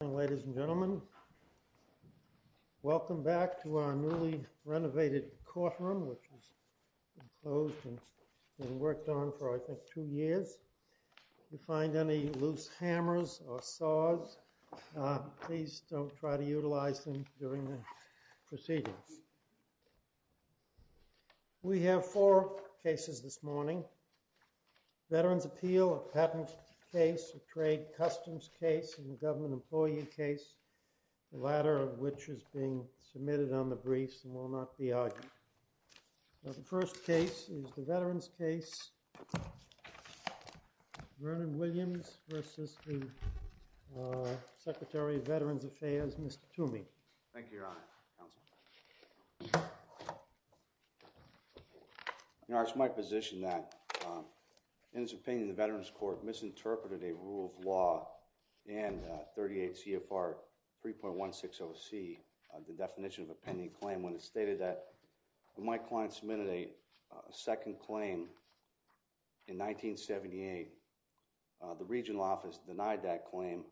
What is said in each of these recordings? Ladies and gentlemen, welcome back to our newly renovated courtroom which has been closed and worked on for, I think, two years. If you find any loose hammers or saws, please don't try to utilize them during the proceedings. We have four cases this morning. Veterans' Appeal, a patent case, a trade customs case, and a government employee case, the latter of which is being submitted on the briefs and will not be argued. The first case is the Veterans' Case. Vernon Williams v. the Secretary of Veterans Affairs, Mr. Toomey. Thank you, Your Honor. Your Honor, it is my position that, in its opinion, the Veterans' Court misinterpreted a rule of law and 38 CFR 3.160C, the definition of a pending claim, when it stated that when my client submitted a second claim in 1978, the regional office denied that claim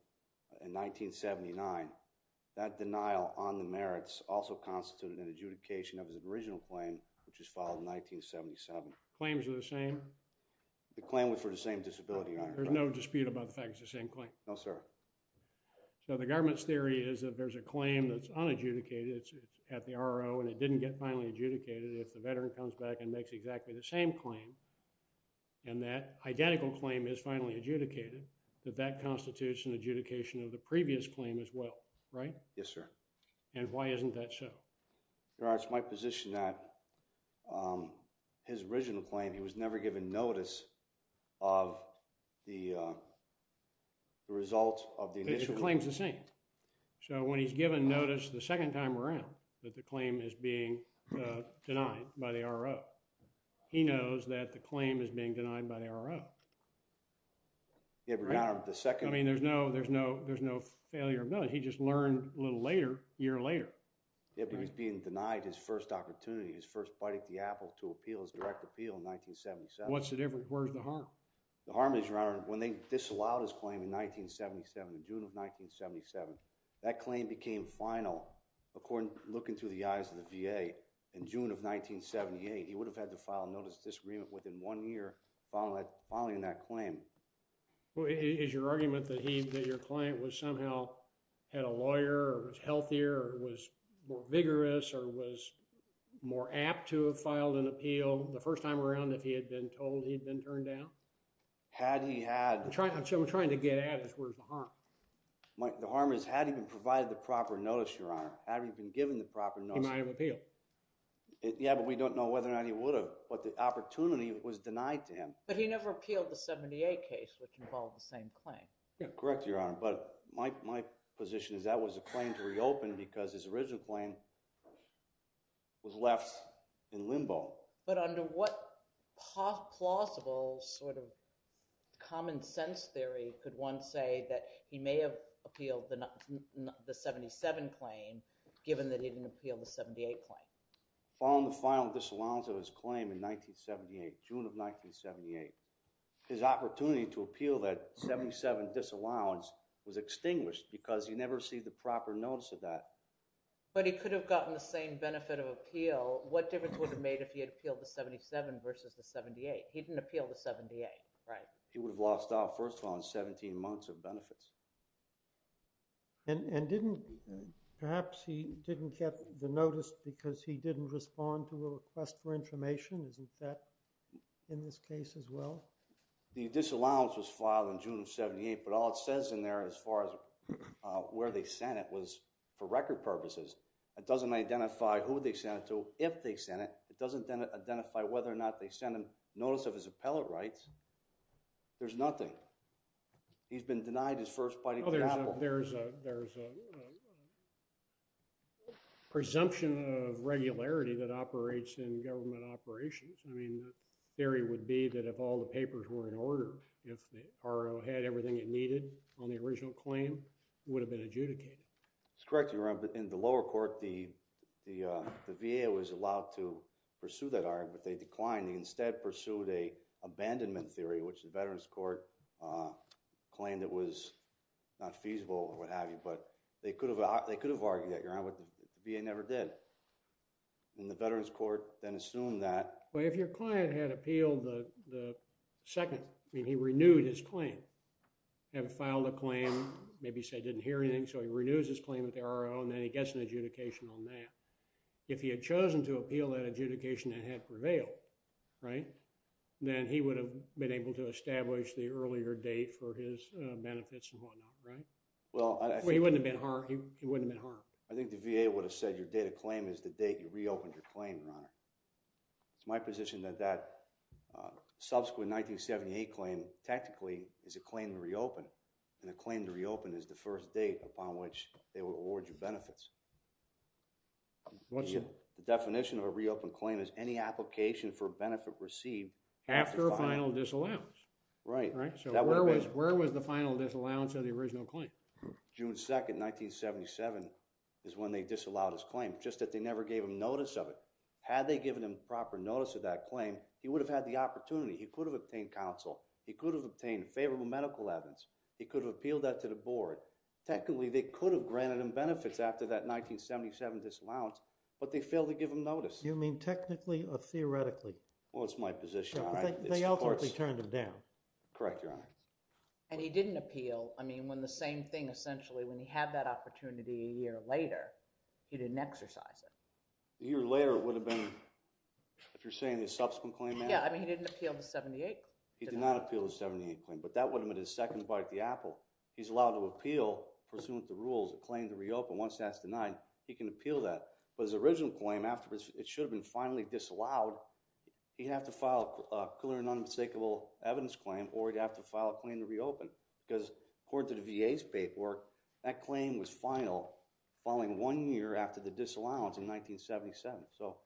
in 1979. That denial on the merits also constituted an adjudication of his original claim, which was filed in 1977. Claims are the same? The claim was for the same disability, Your Honor. There's no dispute about the fact it's the same claim? No, sir. So the government's theory is that there's a claim that's unadjudicated at the RO and it didn't get finally adjudicated if the veteran comes back and makes exactly the same claim and that identical claim is finally adjudicated, that that constitutes an adjudication of the RO, right? Yes, sir. And why isn't that so? Your Honor, it's my position that his original claim, he was never given notice of the result of the initial claim. The claim's the same. So, when he's given notice the second time around that the claim is being denied by the RO, he knows that the claim is being denied by the RO. Your Honor, the second… I mean, there's no failure of knowledge. He just learned a little later, a year later. Yeah, but he's being denied his first opportunity, his first bite at the apple to appeal, his direct appeal in 1977. What's the difference? Where's the harm? The harm is, Your Honor, when they disallowed his claim in 1977, in June of 1977, that claim became final, according, looking through the eyes of the VA, in June of 1978. He would have had to file a notice of disagreement within one year following that claim. Well, is your argument that he, that your client was somehow, had a lawyer or was healthier or was more vigorous or was more apt to have filed an appeal the first time around if he had been told he'd been turned down? Had he had… I'm trying to get at it, where's the harm? The harm is, had he been provided the proper notice, Your Honor, had he been given the proper notice… He might have appealed. Yeah, but we don't know whether or not he would have, but the opportunity was denied to him. But he never appealed the 78 case, which involved the same claim. Correct, Your Honor, but my position is that was a claim to reopen because his original claim was left in limbo. But under what possible sort of common sense theory could one say that he may have appealed the 77 claim, given that he didn't appeal the 78 claim? Following the final disallowance of his claim in 1978, June of 1978, his opportunity to appeal that 77 disallowance was extinguished because he never received the proper notice of that. But he could have gotten the same benefit of appeal. What difference would it have made if he had appealed the 77 versus the 78? He didn't appeal the 78, right? He would have lost out, first of all, on 17 months of benefits. And perhaps he didn't get the notice because he didn't respond to a request for information. Isn't that in this case as well? The disallowance was filed in June of 1978, but all it says in there, as far as where they sent it, was for record purposes. It doesn't identify who they sent it to, if they sent it. It doesn't identify whether or not they sent him notice of his appellate rights. There's nothing. He's been denied his first bite of the apple. There's a presumption of regularity that operates in government operations. I mean, the theory would be that if all the papers were in order, if the RO had everything it needed on the original claim, it would have been adjudicated. That's correct, Your Honor. In the lower court, the VA was allowed to pursue that argument, but they declined. They instead pursued an abandonment theory, which the Veterans Court claimed it was not feasible or what have you. But they could have argued that, Your Honor, but the VA never did. And the Veterans Court then assumed that. Well, if your client had appealed the second, I mean, he renewed his claim and filed a claim. Maybe he said he didn't hear anything, so he renews his claim with the RO, and then he gets an adjudication on that. If he had chosen to appeal that adjudication and had prevailed, right, then he would have been able to establish the earlier date for his benefits and whatnot, right? He wouldn't have been harmed. I think the VA would have said your date of claim is the date you reopened your claim, Your Honor. It's my position that that subsequent 1978 claim, tactically, is a claim to reopen. And a claim to reopen is the first date upon which they would award you benefits. The definition of a reopened claim is any application for benefit received after a final disallowance. Right. So where was the final disallowance of the original claim? June 2, 1977 is when they disallowed his claim, just that they never gave him notice of it. Had they given him proper notice of that claim, he would have had the opportunity. He could have obtained counsel. He could have obtained favorable medical evidence. He could have appealed that to the board. Technically, they could have granted him benefits after that 1977 disallowance, but they failed to give him notice. Do you mean technically or theoretically? Well, it's my position, Your Honor. They ultimately turned him down. Correct, Your Honor. And he didn't appeal. I mean, when the same thing, essentially, when he had that opportunity a year later, he didn't exercise it. A year later, it would have been, if you're saying the subsequent claim? Yeah, I mean, he didn't appeal to 78. He did not appeal to the 78 claim, but that would have been his second bite of the apple. He's allowed to appeal pursuant to rules, a claim to reopen. Once that's denied, he can appeal that. But his original claim, after it should have been finally disallowed, he'd have to file a clear and unmistakable evidence claim, or he'd have to file a claim to reopen. Because according to the VA's paperwork, that claim was final following one year after the disallowance in 1977. So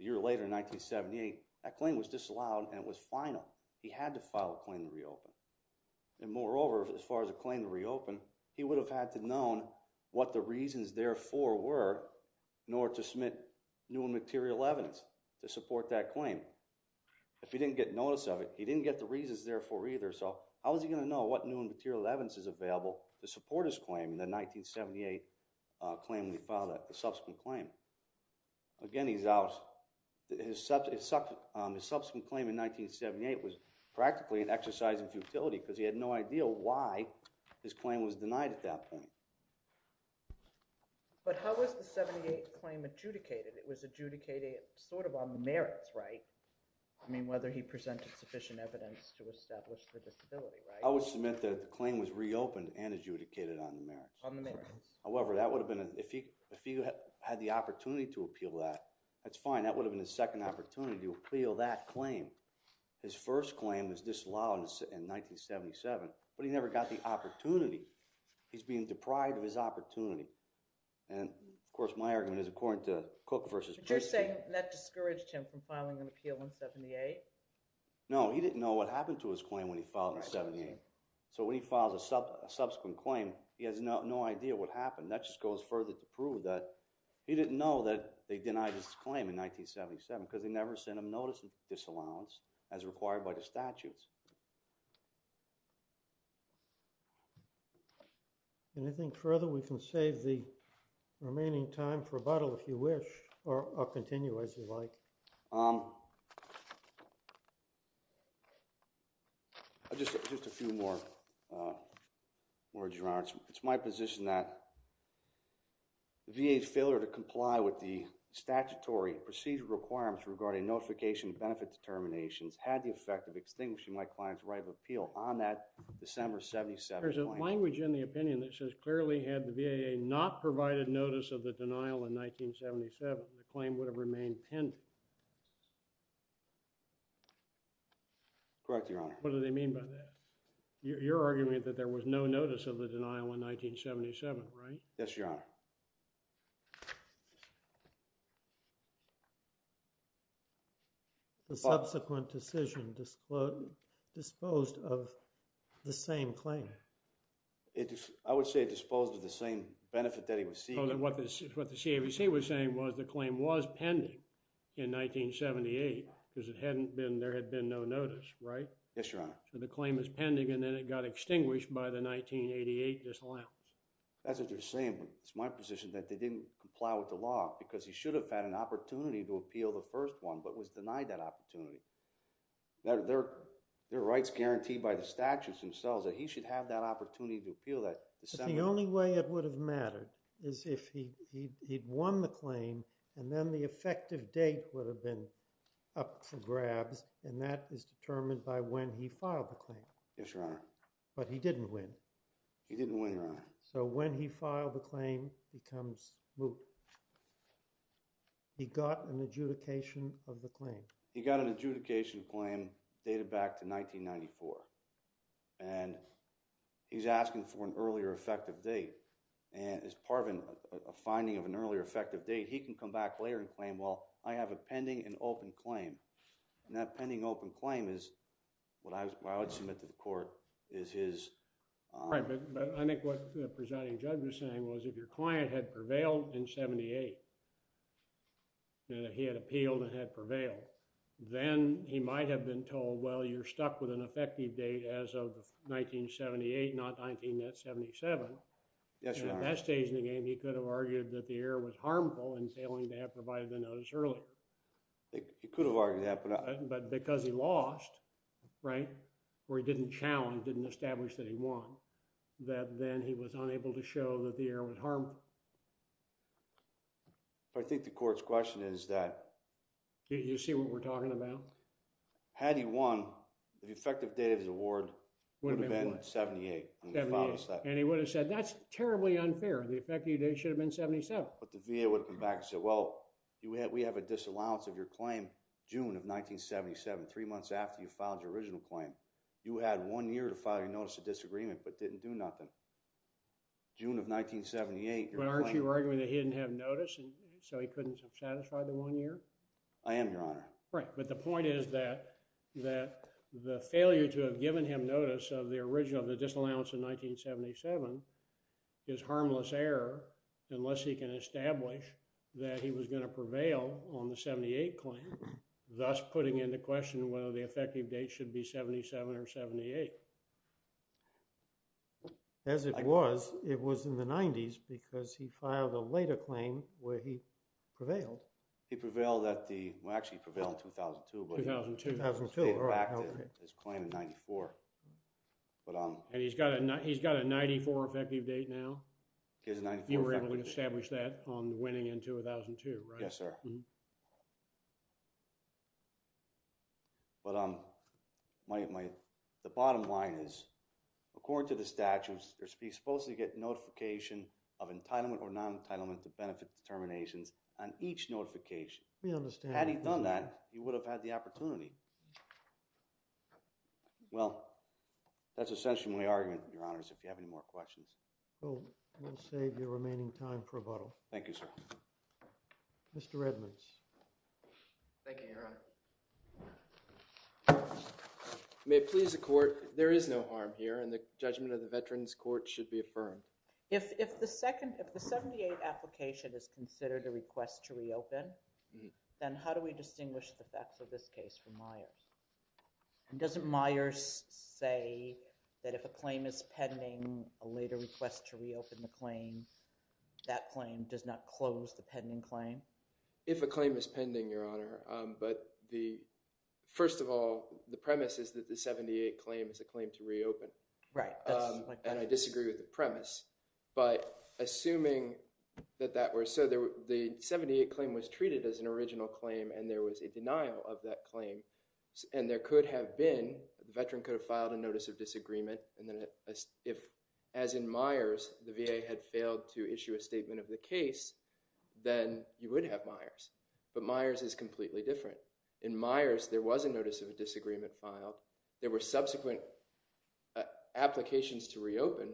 a year later, in 1978, that claim was disallowed, and it was final. He had to file a claim to reopen. And moreover, as far as a claim to reopen, he would have had to known what the reasons therefore were in order to submit new and material evidence to support that claim. If he didn't get notice of it, he didn't get the reasons therefore either. So how was he going to know what new and material evidence is available to support his claim in the 1978 claim when he filed that subsequent claim? Again, he's out. His subsequent claim in 1978 was practically an exercise in futility because he had no idea why his claim was denied at that point. But how was the 78 claim adjudicated? It was adjudicated sort of on the merits, right? I mean, whether he presented sufficient evidence to establish the disability, right? I would submit that the claim was reopened and adjudicated on the merits. On the merits. However, that would have been – if he had the opportunity to appeal that, that's fine. That would have been his second opportunity to appeal that claim. His first claim was disallowed in 1977, but he never got the opportunity. He's being deprived of his opportunity. And, of course, my argument is according to Cook v. Pritzker. But you're saying that discouraged him from filing an appeal in 78? No, he didn't know what happened to his claim when he filed in 78. So when he files a subsequent claim, he has no idea what happened. That just goes further to prove that he didn't know that they denied his claim in 1977 because they never sent him notice of disallowance as required by the statutes. Anything further? We can save the remaining time for rebuttal if you wish, or continue as you like. Just a few more words, Your Honor. It's my position that the VA's failure to comply with the statutory procedural requirements regarding notification benefit determinations had the effect of extinguishing my client's right of appeal on that December 77 claim. There's a language in the opinion that says clearly had the VA not provided notice of the denial in 1977, the claim would have remained pending. Correct, Your Honor. What do they mean by that? You're arguing that there was no notice of the denial in 1977, right? Yes, Your Honor. The subsequent decision disposed of the same claim. I would say disposed of the same benefit that he received. What the CAVC was saying was the claim was pending in 1978 because there had been no notice, right? Yes, Your Honor. So the claim is pending, and then it got extinguished by the 1988 disallowance. That's what you're saying, but it's my position that they didn't comply with the law because he should have had an opportunity to appeal the first one but was denied that opportunity. There are rights guaranteed by the statutes themselves that he should have that opportunity to appeal that December. The only way it would have mattered is if he'd won the claim and then the effective date would have been up for grabs, and that is determined by when he filed the claim. Yes, Your Honor. But he didn't win. He didn't win, Your Honor. So when he filed the claim, he becomes moot. He got an adjudication of the claim. He got an adjudication claim dated back to 1994, and he's asking for an earlier effective date, and as part of a finding of an earlier effective date, he can come back later and claim, well, I have a pending and open claim, and that pending open claim is what I would submit to the court is his… Right, but I think what the presiding judge was saying was if your client had prevailed in 1978 and he had appealed and had prevailed, then he might have been told, well, you're stuck with an effective date as of 1978, not 1977. Yes, Your Honor. At that stage in the game, he could have argued that the error was harmful in failing to have provided the notice earlier. He could have argued that, but I… But because he lost, right, or he didn't challenge, didn't establish that he won, that then he was unable to show that the error was harmful. I think the court's question is that… Do you see what we're talking about? Had he won, the effective date of his award would have been 78. 78, and he would have said, that's terribly unfair. The effective date should have been 77. But the VA would have come back and said, well, we have a disallowance of your claim June of 1977, three months after you filed your original claim. You had one year to file your notice of disagreement but didn't do nothing. June of 1978, your claim… I am, Your Honor. Right, but the point is that the failure to have given him notice of the original, of the disallowance in 1977, is harmless error unless he can establish that he was going to prevail on the 78 claim, thus putting into question whether the effective date should be 77 or 78. As it was, it was in the 90s because he filed a later claim where he prevailed. He prevailed at the – well, actually he prevailed in 2002. 2002. 2002. Back to his claim in 94. And he's got a 94 effective date now? He has a 94 effective date. You were able to establish that on winning in 2002, right? Yes, sir. But the bottom line is, according to the statutes, you're supposed to get notification of entitlement or non-entitlement to benefit determinations on each notification. We understand that. Had he done that, you would have had the opportunity. Well, that's essentially my argument, Your Honors, if you have any more questions. We'll save your remaining time for rebuttal. Thank you, sir. Mr. Edmonds. Thank you, Your Honor. May it please the Court, there is no harm here and the judgment of the Veterans Court should be affirmed. If the 78 application is considered a request to reopen, then how do we distinguish the facts of this case from Myers? And doesn't Myers say that if a claim is pending, a later request to reopen the claim, that claim does not close the pending claim? If a claim is pending, Your Honor. But first of all, the premise is that the 78 claim is a claim to reopen. Right. And I disagree with the premise. But assuming that that were so, the 78 claim was treated as an original claim and there was a denial of that claim, and there could have been, the veteran could have filed a notice of disagreement. And then if, as in Myers, the VA had failed to issue a statement of the case, then you would have Myers. But Myers is completely different. In Myers, there was a notice of a disagreement filed. There were subsequent applications to reopen,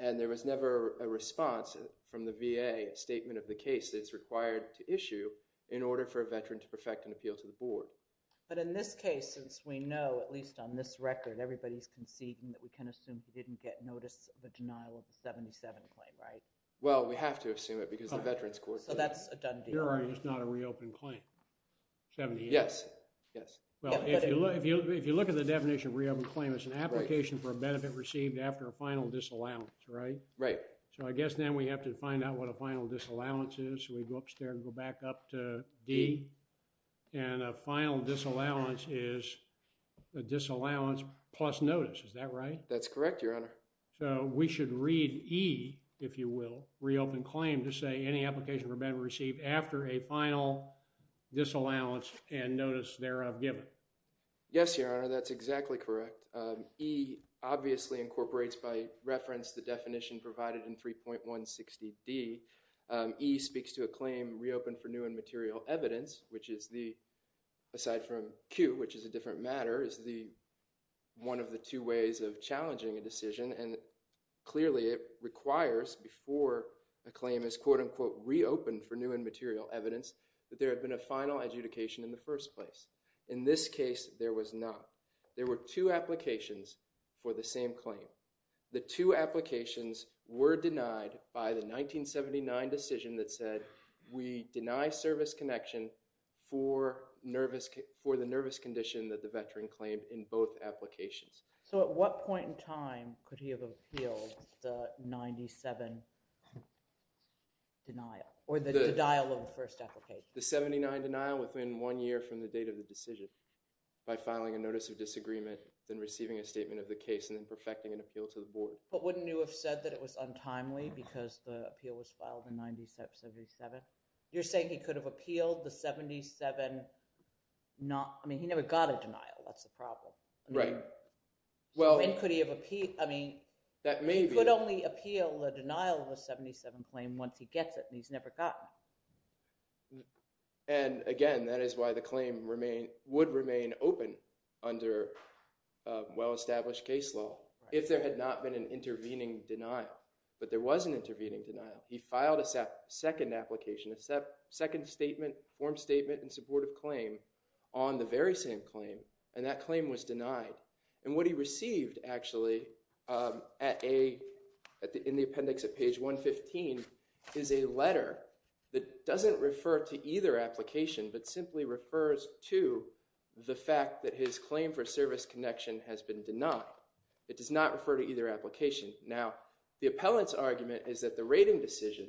and there was never a response from the VA, a statement of the case that is required to issue in order for a veteran to perfect an appeal to the board. But in this case, since we know, at least on this record, everybody is conceding that we can assume he didn't get notice of the denial of the 77 claim, right? Well, we have to assume it because the Veterans Court… So that's a done deal. Your Honor, it's not a reopened claim, 78. Yes, yes. Well, if you look at the definition of reopened claim, it's an application for a benefit received after a final disallowance, right? Right. So I guess then we have to find out what a final disallowance is. So we go up there and go back up to D. And a final disallowance is a disallowance plus notice. Is that right? That's correct, Your Honor. So we should read E, if you will, reopened claim to say any application for a benefit received after a final disallowance and notice thereof given. Yes, Your Honor, that's exactly correct. E obviously incorporates by reference the definition provided in 3.160D. E speaks to a claim reopened for new and material evidence, which is the, aside from Q, which is a different matter, is one of the two ways of challenging a decision. And clearly it requires before a claim is, quote, unquote, reopened for new and material evidence, that there had been a final adjudication in the first place. In this case, there was not. There were two applications for the same claim. The two applications were denied by the 1979 decision that said, we deny service connection for the nervous condition that the veteran claimed in both applications. So at what point in time could he have appealed the 97 denial or the denial of the first application? The 79 denial within one year from the date of the decision by filing a notice of disagreement, then receiving a statement of the case, and then perfecting an appeal to the board. But wouldn't you have said that it was untimely because the appeal was filed in 1977? You're saying he could have appealed the 77 not – I mean, he never got a denial. That's the problem. Right. So when could he have appealed – I mean, he could only appeal the denial of the 77 claim once he gets it, and he's never gotten it. And again, that is why the claim would remain open under well-established case law if there had not been an intervening denial. But there was an intervening denial. He filed a second application, a second statement, form statement in support of claim on the very same claim, and that claim was denied. And what he received, actually, in the appendix at page 115 is a letter that doesn't refer to either application but simply refers to the fact that his claim for service connection has been denied. It does not refer to either application. Now, the appellant's argument is that the rating decision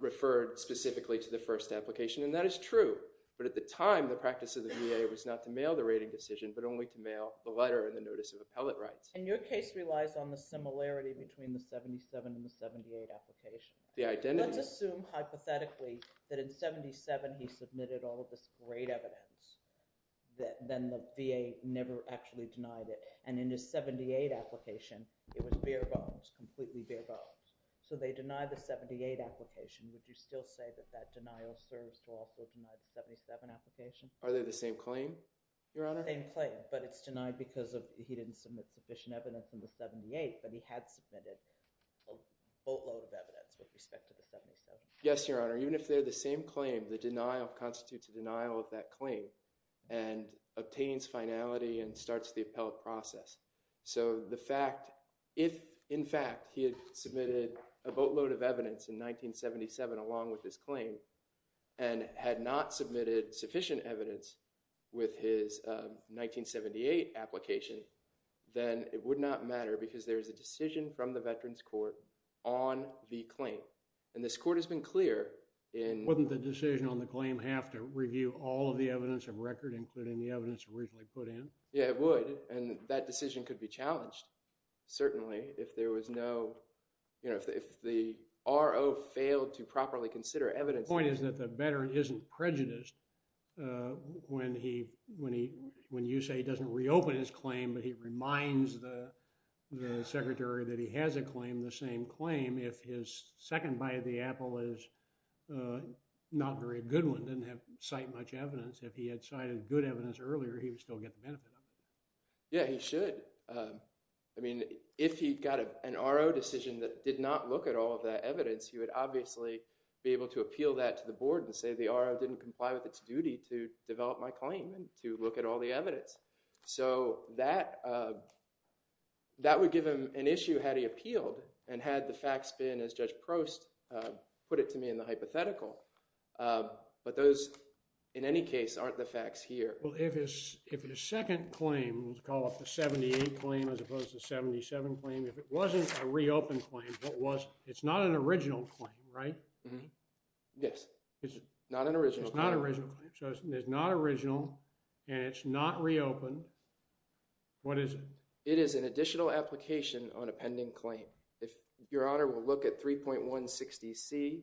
referred specifically to the first application, and that is true. But at the time, the practice of the VA was not to mail the rating decision but only to mail the letter and the notice of appellate rights. And your case relies on the similarity between the 77 and the 78 application. The identity. Let's assume hypothetically that in 77 he submitted all of this great evidence that then the VA never actually denied it. And in his 78 application, it was bare bones, completely bare bones. So they denied the 78 application. Would you still say that that denial serves to also deny the 77 application? Are they the same claim, Your Honor? The same claim, but it's denied because he didn't submit sufficient evidence in the 78, but he had submitted a boatload of evidence with respect to the 77. Yes, Your Honor. Even if they're the same claim, the denial constitutes a denial of that claim and obtains finality and starts the appellate process. So the fact if, in fact, he had submitted a boatload of evidence in 1977 along with his claim and had not submitted sufficient evidence with his 1978 application, then it would not matter because there is a decision from the Veterans Court on the claim. And this court has been clear in… Wouldn't the decision on the claim have to review all of the evidence of record including the evidence originally put in? And that decision could be challenged. Certainly, if there was no… You know, if the RO failed to properly consider evidence… The point is that the veteran isn't prejudiced when he… When you say he doesn't reopen his claim, but he reminds the secretary that he has a claim, the same claim, if his second bite of the apple is not very good one, didn't cite much evidence. If he had cited good evidence earlier, he would still get the benefit of it. Yeah, he should. I mean, if he got an RO decision that did not look at all of that evidence, he would obviously be able to appeal that to the board and say the RO didn't comply with its duty to develop my claim and to look at all the evidence. So that would give him an issue had he appealed and had the facts been, as Judge Prost put it to me in the hypothetical. But those, in any case, aren't the facts here. Well, if his second claim, let's call it the 78 claim as opposed to 77 claim, if it wasn't a reopened claim, it's not an original claim, right? Yes. It's not an original claim. It's not an original claim. So it's not original and it's not reopened. What is it? It is an additional application on a pending claim. If Your Honor will look at 3.160C…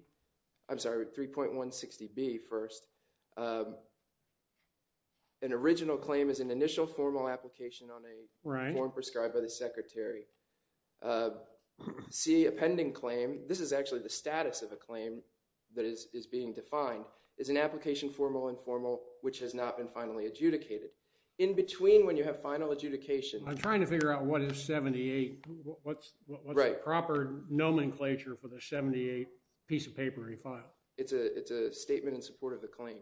I'm sorry, 3.160B first. An original claim is an initial formal application on a form prescribed by the secretary. C, a pending claim, this is actually the status of a claim that is being defined, is an application, formal or informal, which has not been finally adjudicated. In between when you have final adjudication… I'm trying to figure out what is 78. What's the proper nomenclature for the 78 piece of paper he filed? It's a statement in support of the claim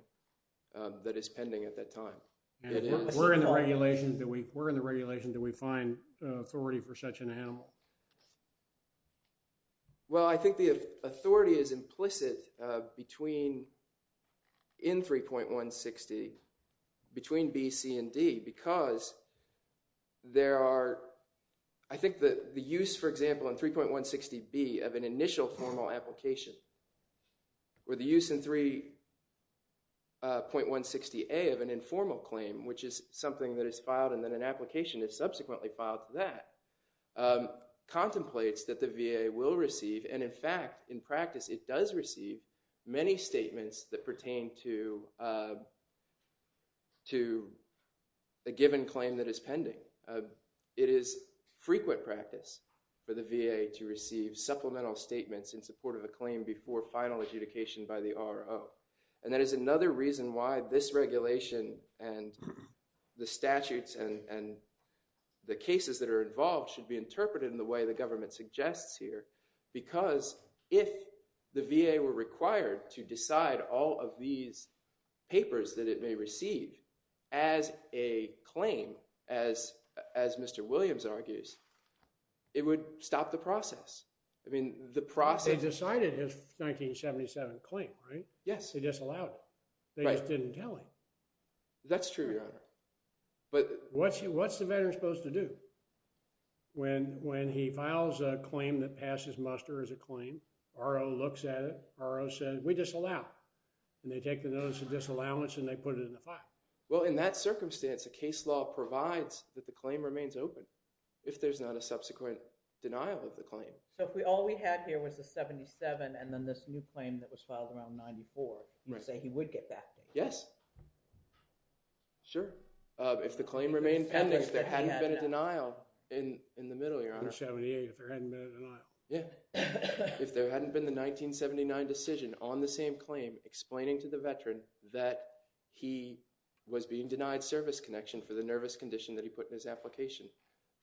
that is pending at that time. We're in the regulation that we find authority for such an animal. Well, I think the authority is implicit in 3.160 between B, C, and D because there are… I think the use, for example, in 3.160B of an initial formal application or the use in 3.160A of an informal claim, which is something that is filed and then an application is subsequently filed to that, contemplates that the VA will receive and, in fact, in practice, it does receive many statements that pertain to a given claim that is pending. It is frequent practice for the VA to receive supplemental statements in support of a claim before final adjudication by the RO. And that is another reason why this regulation and the statutes and the cases that are involved should be interpreted in the way the government suggests here because if the VA were required to decide all of these papers that it may receive as a claim, as Mr. Williams argues, it would stop the process. I mean, the process… They decided his 1977 claim, right? Yes. They disallowed it. Right. They just didn't tell him. That's true, Your Honor. But… What's the veteran supposed to do? When he files a claim that passes muster as a claim, RO looks at it, RO says, we disallow. And they take the notice of disallowance and they put it in the file. Well, in that circumstance, a case law provides that the claim remains open if there's not a subsequent denial of the claim. So if all we had here was the 77 and then this new claim that was filed around 94, you say he would get back to you? Yes. Sure. If the claim remained pending, if there hadn't been a denial in the middle, Your Honor. The 78, if there hadn't been a denial. Yeah. If there hadn't been the 1979 decision on the same claim explaining to the veteran that he was being denied service connection for the nervous condition that he put in his application,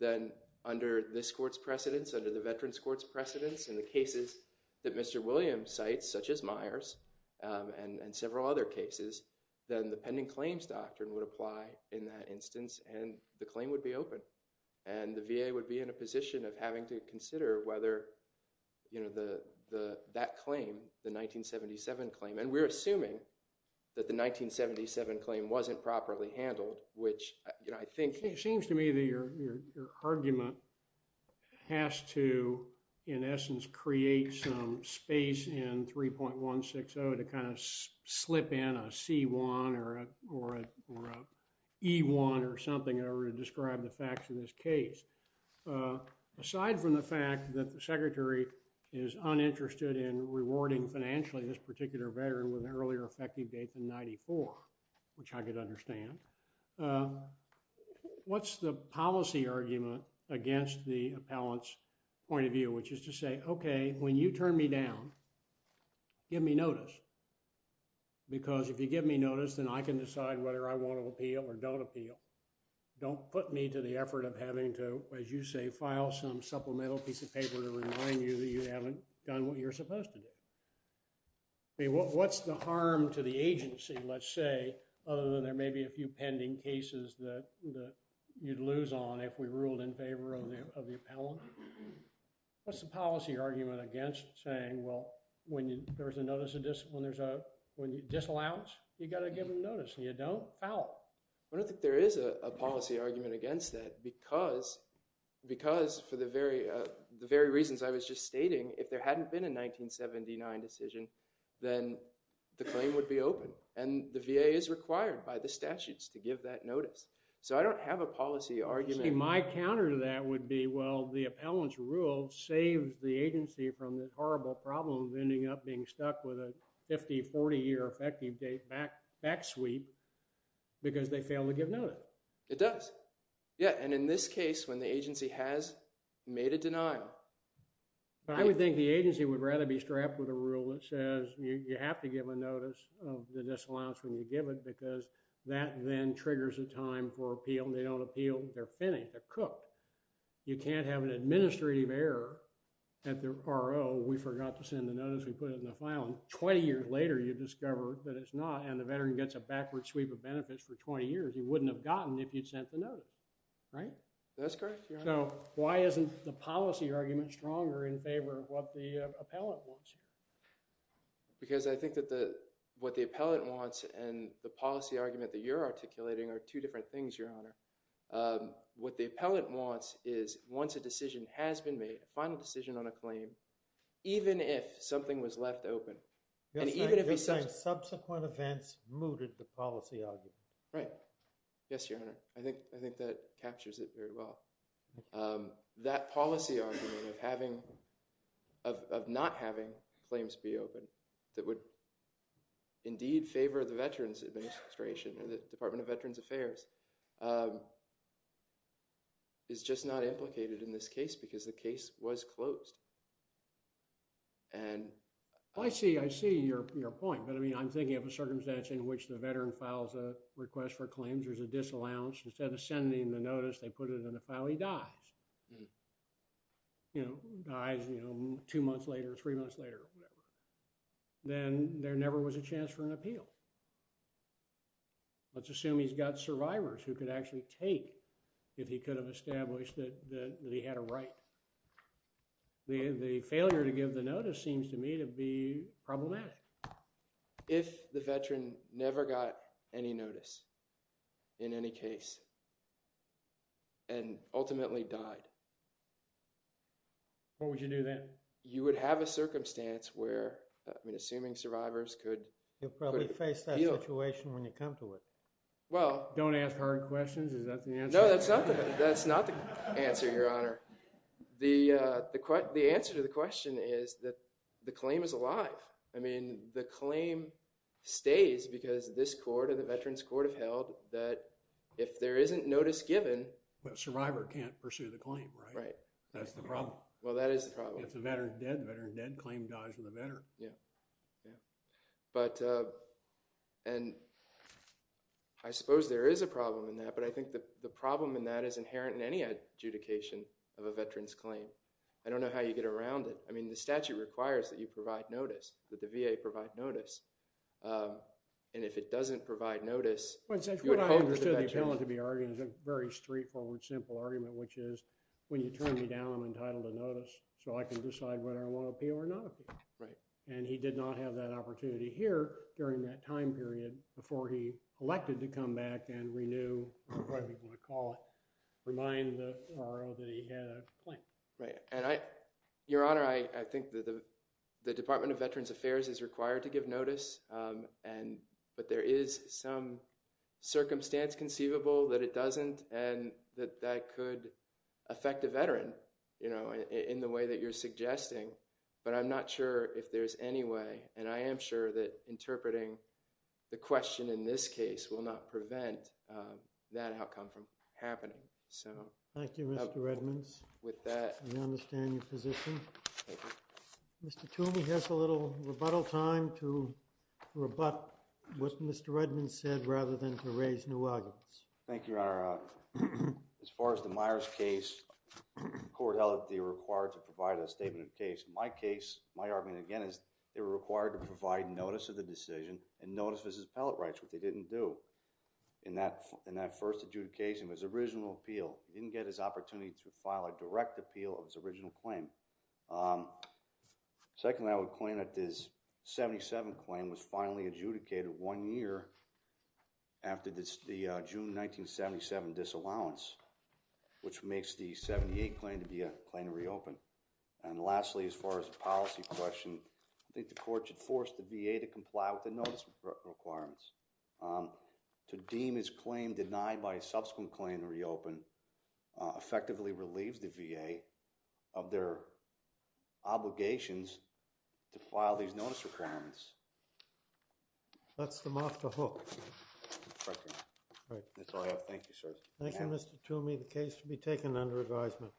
then under this court's precedence, under the veteran's court's precedence in the cases that Mr. Williams cites, such as Myers and several other cases, then the pending claims doctrine would apply in that instance and the claim would be open. And the VA would be in a position of having to consider whether that claim, the 1977 claim, and we're assuming that the 1977 claim wasn't properly handled, which I think… It seems to me that your argument has to, in essence, create some space in 3.160 to kind of slip in a C1 or an E1 or something in order to describe the facts in this case. Aside from the fact that the secretary is uninterested in rewarding financially this particular veteran with an earlier effective date than 94, which I could understand, what's the policy argument against the appellant's point of view, which is to say, okay, when you turn me down, give me notice because if you give me notice, then I can decide whether I want to appeal or don't appeal. Don't put me to the effort of having to, as you say, file some supplemental piece of paper to remind you that you haven't done what you're supposed to do. What's the harm to the agency, let's say, other than there may be a few pending cases that you'd lose on if we ruled in favor of the appellant? What's the policy argument against saying, well, when there's a notice of disallowance, you've got to give them notice and you don't, foul. I don't think there is a policy argument against that because for the very reasons I was just stating, if there hadn't been a 1979 decision, then the claim would be open and the VA is required by the statutes to give that notice. So I don't have a policy argument. My counter to that would be, well, the appellant's rule saves the agency from the horrible problem of ending up being stuck with a 50, 40-year effective date back sweep because they fail to give notice. It does. Yeah, and in this case, when the agency has made a denial. I would think the agency would rather be strapped with a rule that says you have to give a notice of the disallowance when you give it because that then triggers a time for appeal. They don't appeal. They're finished. They're cooked. You can't have an administrative error at the RO. We forgot to send the notice. We put it in the file. And 20 years later, you discover that it's not, and the veteran gets a backward sweep of benefits for 20 years. He wouldn't have gotten if you'd sent the notice, right? That's correct, Your Honor. So why isn't the policy argument stronger in favor of what the appellant wants? Because I think that what the appellant wants and the policy argument that you're articulating are two different things, Your Honor. What the appellant wants is once a decision has been made, a final decision on a claim, even if something was left open. Yes, Your Honor. Subsequent events mooted the policy argument. Right. Yes, Your Honor. I think that captures it very well. That policy argument of not having claims be open that would indeed favor the Veterans Administration or the Department of Veterans Affairs is just not implicated in this case because the case was closed. And... I see, I see your point. But I mean, I'm thinking of a circumstance in which the veteran files a request for claims. There's a disallowance. Instead of sending the notice, they put it in a file. He dies. Dies two months later, three months later, whatever. Then there never was a chance for an appeal. Let's assume he's got survivors who could actually take if he could have established that he had a right. The failure to give the notice seems to me to be problematic. If the veteran never got any notice in any case and ultimately died... What would you do then? You would have a circumstance where, I mean, assuming survivors could... You'll probably face that situation when you come to it. Well... Don't ask hard questions. Is that the answer? No, that's not the answer, Your Honor. The answer to the question is that the claim is alive. I mean, the claim stays because this court and the Veterans Court have held that if there isn't notice given... The survivor can't pursue the claim, right? Right. That's the problem. Well, that is the problem. It's a veteran dead. Veteran dead. Claim dies with a veteran. Yeah. Yeah. And I suppose there is a problem in that, but I think the problem in that is inherent in any adjudication of a veteran's claim. I don't know how you get around it. I mean, the statute requires that you provide notice, that the VA provide notice. And if it doesn't provide notice... What I understood the appellant to be arguing is a very straightforward, simple argument, which is when you turn me down, I'm entitled to notice so I can decide whether I want to appeal or not appeal. Right. And he did not have that opportunity here during that time period before he elected to come back and renew, require people to call, remind the RO that he had a claim. Right. And I... Your Honor, I think that the Department of Veterans Affairs is required to give notice, but there is some circumstance conceivable that it doesn't and that that could affect a veteran, you know, in the way that you're suggesting. But I'm not sure if there's any way, and I am sure that interpreting the question in this case will not prevent that outcome from happening. So... Thank you, Mr. Redmans. With that... We understand your position. Thank you. Mr. Toomey has a little rebuttal time to rebut what Mr. Redmans said rather than to raise new arguments. Thank you, Your Honor. As far as the Myers case, the court held that they were required to provide a statement of case. In my case, my argument, again, is they were required to provide notice of the decision and notice of his appellate rights, which they didn't do in that first adjudication of his original appeal. They didn't get his opportunity to file a direct appeal of his original claim. Secondly, I would claim that this 77 claim was finally adjudicated one year after the June 1977 disallowance, which makes the 78 claim to be a claim to reopen. And lastly, as far as the policy question, I think the court should force the VA to comply with the notice requirements. To deem his claim denied by a subsequent claim to reopen effectively relieves the VA of their obligations to file these notice requirements. That's the master hook. That's all I have. Thank you, sir. Thank you, Mr. Toomey. The case will be taken under advisement.